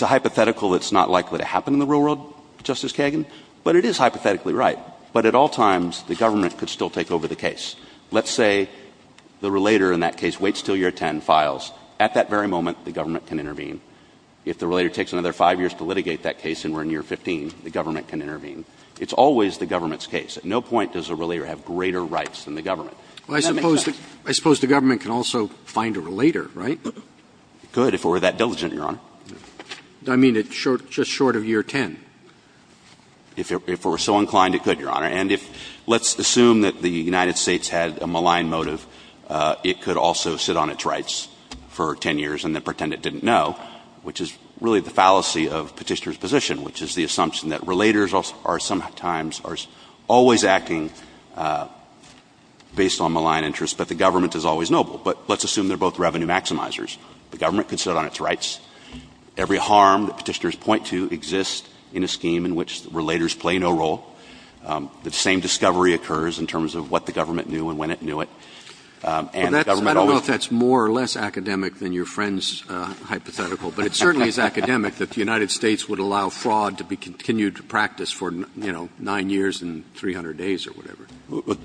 hypothetical that's not likely to happen in the real world, Justice Kagan, but it is hypothetically right. But at all times, the government could still take over the case. Let's say the relator in that case waits until year 10, files. At that very moment, the government can intervene. If the relator takes another 5 years to litigate that case and we're in year 15, the government can intervene. It's always the government's case. At no point does a relator have greater rights than the government. Does that make sense? Roberts. I suppose the government can also find a relator, right? It could if it were that diligent, Your Honor. I mean, just short of year 10. If it were so inclined, it could, Your Honor. And if let's assume that the United States had a malign motive, it could also sit on its rights for 10 years and then pretend it didn't know, which is really the fallacy of Petitioner's position, which is the assumption that relators are sometimes always acting based on malign interests, but the government is always noble. But let's assume they're both revenue maximizers. The government could sit on its rights. Every harm that Petitioners point to exists in a scheme in which relators play no role. The same discovery occurs in terms of what the government knew and when it knew it. And the government always – I don't know if that's more or less academic than your friend's hypothetical, but it certainly is academic that the United States would allow fraud to be continued to practice for, you know, 9 years and 300 days or whatever.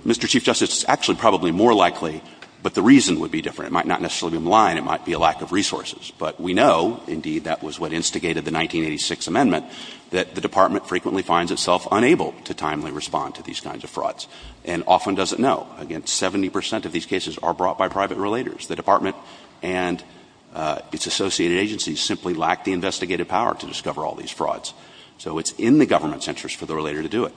Mr. Chief Justice, it's actually probably more likely, but the reason would be different. It might not necessarily be malign. It might be a lack of resources. But we know, indeed, that was what instigated the 1986 amendment, that the Department frequently finds itself unable to timely respond to these kinds of frauds. And often doesn't know. Again, 70 percent of these cases are brought by private relators. The Department and its associated agencies simply lack the investigative power to discover all these frauds. So it's in the government's interest for the relator to do it.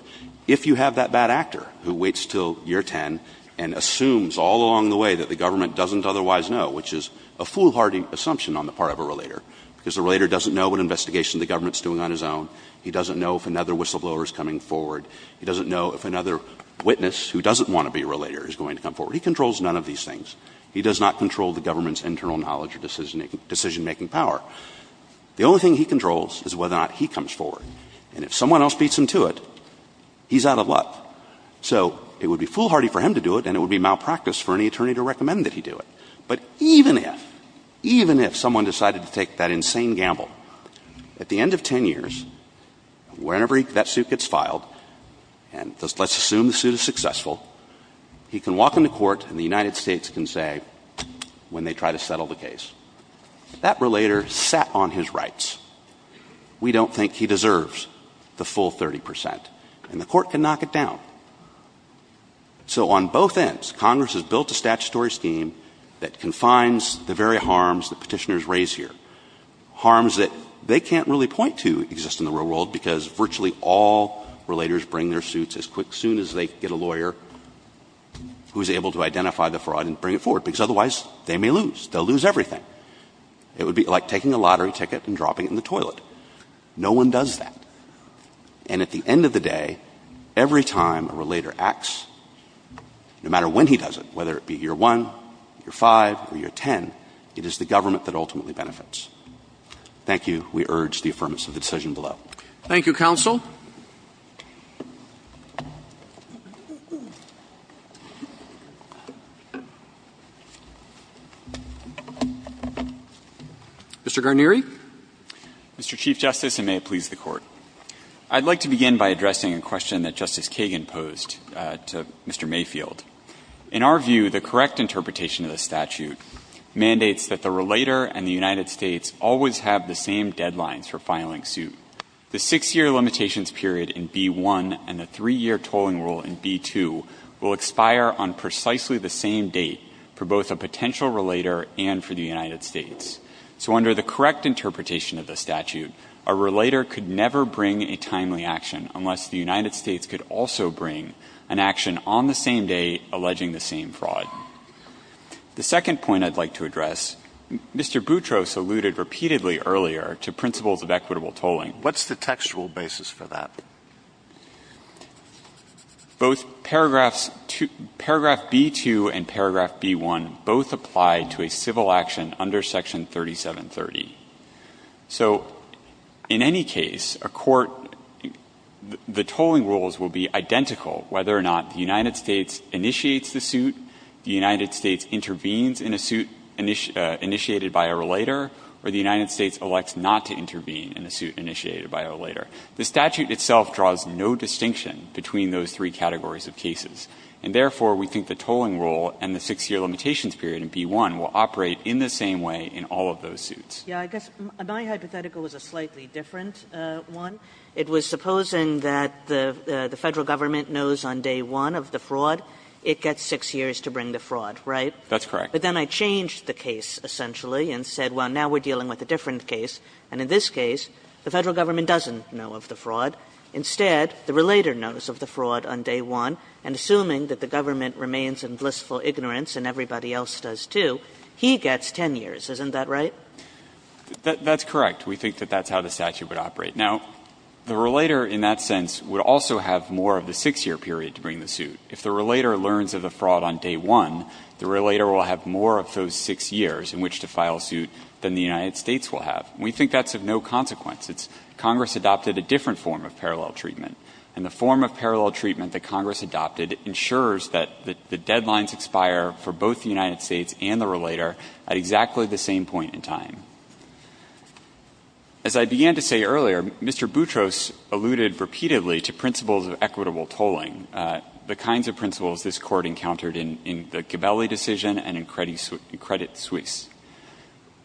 If you have that bad actor who waits until year 10 and assumes all along the way that the government doesn't otherwise know, which is a foolhardy assumption on the part of a relator, because the relator doesn't know what investigation the government's doing on his own, he doesn't know if another whistleblower is coming forward, he doesn't know if another witness who doesn't want to be a relator is going to come forward. He controls none of these things. He does not control the government's internal knowledge or decision-making power. The only thing he controls is whether or not he comes forward. And if someone else beats him to it, he's out of luck. So it would be foolhardy for him to do it, and it would be malpractice for any attorney to recommend that he do it. But even if, even if someone decided to take that insane gamble, at the end of 10 years, whenever that suit gets filed, and let's assume the suit is successful, he can walk into court, and the United States can say, when they try to settle the case, that relator sat on his rights. We don't think he deserves the full 30 percent, and the court can knock it down. So on both ends, Congress has built a statutory scheme that confines the very harms that petitioners raise here, harms that they can't really point to exist in the real world, because virtually all relators bring their suits as quick, soon as they get a to identify the fraud and bring it forward, because otherwise they may lose. They'll lose everything. It would be like taking a lottery ticket and dropping it in the toilet. No one does that. And at the end of the day, every time a relator acts, no matter when he does it, whether it be year 1, year 5, or year 10, it is the government that ultimately benefits. Thank you. We urge the affirmation of the decision below. Thank you, counsel. Mr. Guarneri. Mr. Chief Justice, and may it please the Court. I'd like to begin by addressing a question that Justice Kagan posed to Mr. Mayfield. In our view, the correct interpretation of the statute mandates that the relator and the United States always have the same deadlines for filing suit. The six-year limitations period in B-1 and the three-year tolling rule in B-2 will expire on precisely the same date for both a potential relator and for the United States. So under the correct interpretation of the statute, a relator could never bring a timely action unless the United States could also bring an action on the same day alleging the same fraud. The second point I'd like to address, Mr. Boutros alluded repeatedly earlier to principles of equitable tolling. What's the textual basis for that? Both paragraphs B-2 and paragraph B-1 both apply to a civil action under Section 3730. So in any case, a court, the tolling rules will be identical whether or not the United States initiates the suit, the United States intervenes in a suit initiated by a relator, or the United States elects not to intervene in a suit initiated by a relator. The statute itself draws no distinction between those three categories of cases. And therefore, we think the tolling rule and the six-year limitations period in B-1 will operate in the same way in all of those suits. Kagan. Yeah, I guess my hypothetical was a slightly different one. It was supposing that the Federal Government knows on day one of the fraud, it gets six years to bring the fraud, right? That's correct. But then I changed the case essentially and said, well, now we're dealing with a different case, and in this case, the Federal Government doesn't know of the fraud. Instead, the relator knows of the fraud on day one, and assuming that the government remains in blissful ignorance and everybody else does, too, he gets 10 years. Isn't that right? That's correct. We think that that's how the statute would operate. Now, the relator in that sense would also have more of the six-year period to bring the suit. If the relator learns of the fraud on day one, the relator will have more of those six years in which to file a suit than the United States will have. We think that's of no consequence. It's Congress adopted a different form of parallel treatment. And the form of parallel treatment that Congress adopted ensures that the deadlines expire for both the United States and the relator at exactly the same point in time. As I began to say earlier, Mr. Boutros alluded repeatedly to principles of equitable tolling, the kinds of principles this Court encountered in the Gabelli decision and in Credit Suisse.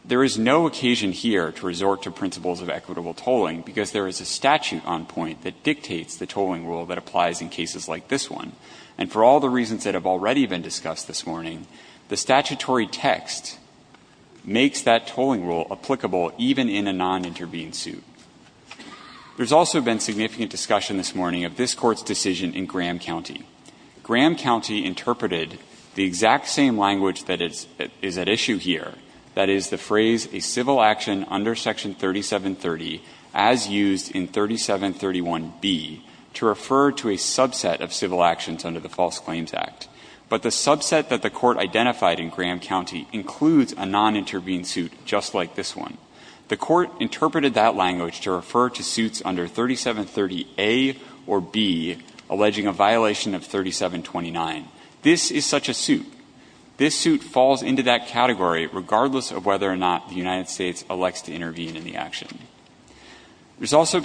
There is no occasion here to resort to principles of equitable tolling because there is a statute on point that dictates the tolling rule that applies in cases like this one. And for all the reasons that have already been discussed this morning, the statutory text makes that tolling rule applicable even in a non-intervened suit. There's also been significant discussion this morning of this Court's decision in Graham County. Graham County interpreted the exact same language that is at issue here, that is the phrase a civil action under Section 3730 as used in 3731B to refer to a subset of civil actions under the False Claims Act. But the subset that the Court identified in Graham County includes a non-intervened suit just like this one. The Court interpreted that language to refer to suits under 3730A or B alleging a violation of 3729. This is such a suit. This suit falls into that category regardless of whether or not the United States elects to intervene in the action. There's also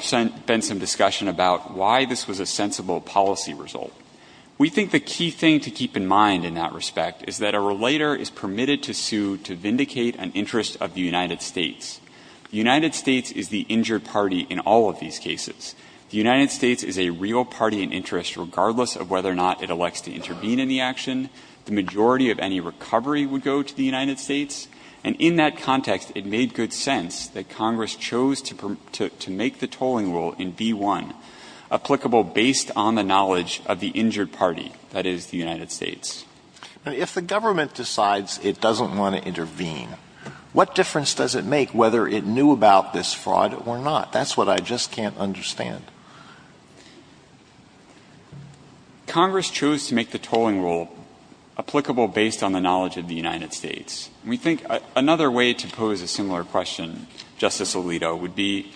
been some discussion about why this was a sensible policy result. We think the key thing to keep in mind in that respect is that a relator is permitted to sue to vindicate an interest of the United States. The United States is the injured party in all of these cases. The United States is a real party in interest regardless of whether or not it elects to intervene in the action. The majority of any recovery would go to the United States. And in that context, it made good sense that Congress chose to make the tolling rule in favor of the injured party, that is, the United States. Now, if the government decides it doesn't want to intervene, what difference does it make whether it knew about this fraud or not? That's what I just can't understand. Congress chose to make the tolling rule applicable based on the knowledge of the United States. We think another way to pose a similar question, Justice Alito, would be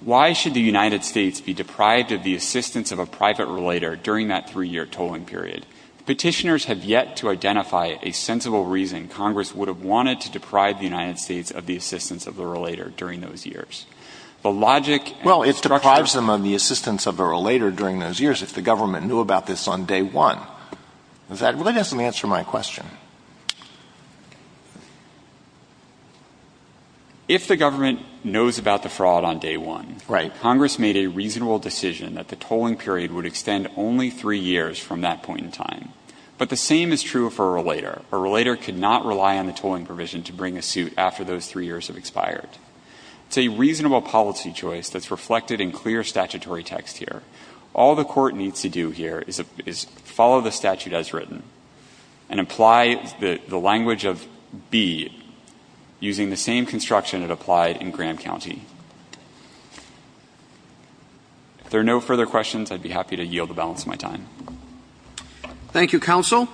why should the United States be deprived of the assistance of a private relator during that three-year tolling period? Petitioners have yet to identify a sensible reason Congress would have wanted to deprive the United States of the assistance of the relator during those years. The logic and the structure— Well, it deprives them of the assistance of a relator during those years if the government knew about this on day one. That really doesn't answer my question. If the government knows about the fraud on day one— Right. Congress made a reasonable decision that the tolling period would extend only three years from that point in time. But the same is true for a relator. A relator could not rely on the tolling provision to bring a suit after those three years have expired. It's a reasonable policy choice that's reflected in clear statutory text here. All the Court needs to do here is follow the statute as written and apply the language of B using the same construction it applied in Graham County. If there are no further questions, I'd be happy to yield the balance of my time. Thank you, counsel.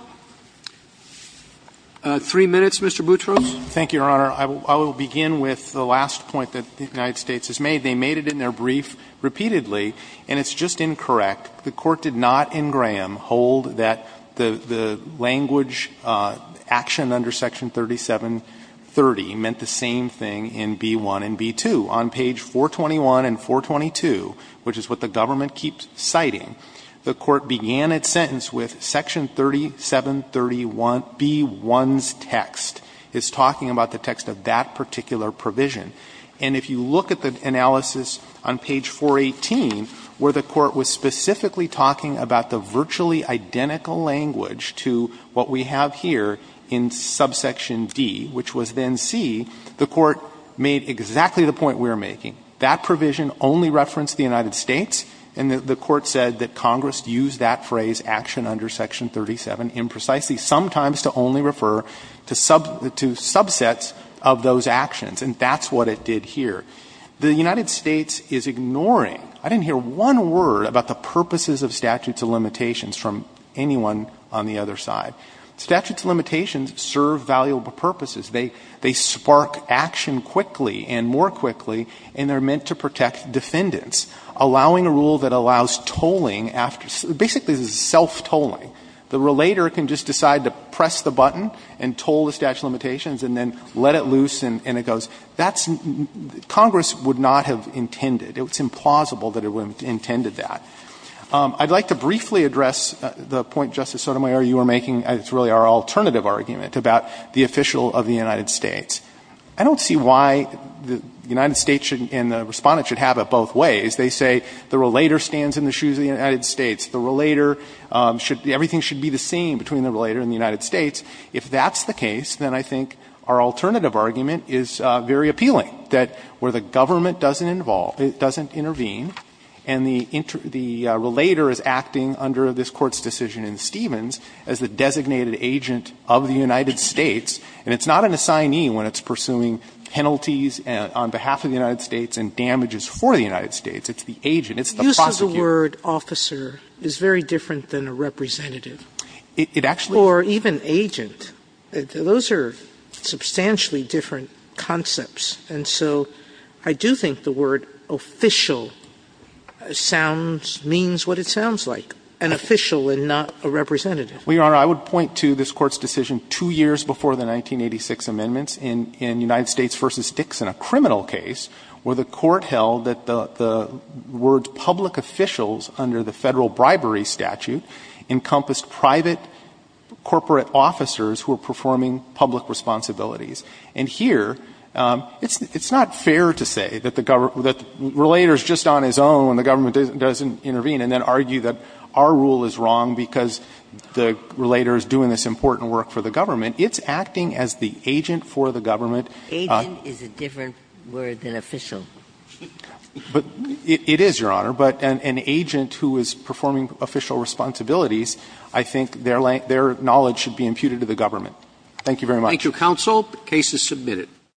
Three minutes, Mr. Boutros. Thank you, Your Honor. I will begin with the last point that the United States has made. They made it in their brief repeatedly, and it's just incorrect. The Court did not in Graham hold that the language action under Section 3730 meant the same thing in B-1 and B-2. On page 421 and 422, which is what the government keeps citing, the Court began its sentence with Section 3730-B-1's text. It's talking about the text of that particular provision. And if you look at the analysis on page 418, where the Court was specifically talking about the virtually identical language to what we have here in subsection D, which was then C, the Court made exactly the point we are making. That provision only referenced the United States, and the Court said that Congress used that phrase, action under Section 37, imprecisely, sometimes to only refer to subsets of those actions. And that's what it did here. The United States is ignoring, I didn't hear one word about the purposes of statutes of limitations from anyone on the other side. Statutes of limitations serve valuable purposes. They spark action quickly and more quickly, and they're meant to protect defendants, allowing a rule that allows tolling after – basically, this is self-tolling. The relator can just decide to press the button and toll the statute of limitations and then let it loose, and it goes – that's – Congress would not have intended. It's implausible that it would have intended that. I'd like to briefly address the point, Justice Sotomayor, you were making, and it's really our alternative argument, about the official of the United States. I don't see why the United States should – and the Respondent should have it both ways. They say the relator stands in the shoes of the United States. The relator should – everything should be the same between the relator and the United States. If that's the case, then I think our alternative argument is very appealing, that where the government doesn't involve – doesn't intervene, and the inter – the relator is acting under this Court's decision in Stevens as the designated agent of the United States, and it's not an assignee when it's pursuing penalties on behalf of the United States and damages for the United States. It's the agent. It's the prosecutor. Sotomayor, the use of the word officer is very different than a representative. It actually – Sotomayor, even agent, those are substantially different concepts. And so I do think the word official sounds – means what it sounds like, an official and not a representative. Well, Your Honor, I would point to this Court's decision two years before the 1986 amendments in United States v. Dixon, a criminal case, where the Court held that the words public officials under the Federal bribery statute encompassed private corporate officers who were performing public responsibilities. And here, it's not fair to say that the – that the relator is just on his own when the government doesn't intervene and then argue that our rule is wrong because the relator is doing this important work for the government. It's acting as the agent for the government. Agent is a different word than official. But it is, Your Honor. But an agent who is performing official responsibilities, I think their knowledge should be imputed to the government. Thank you very much. Thank you, counsel. The case is submitted.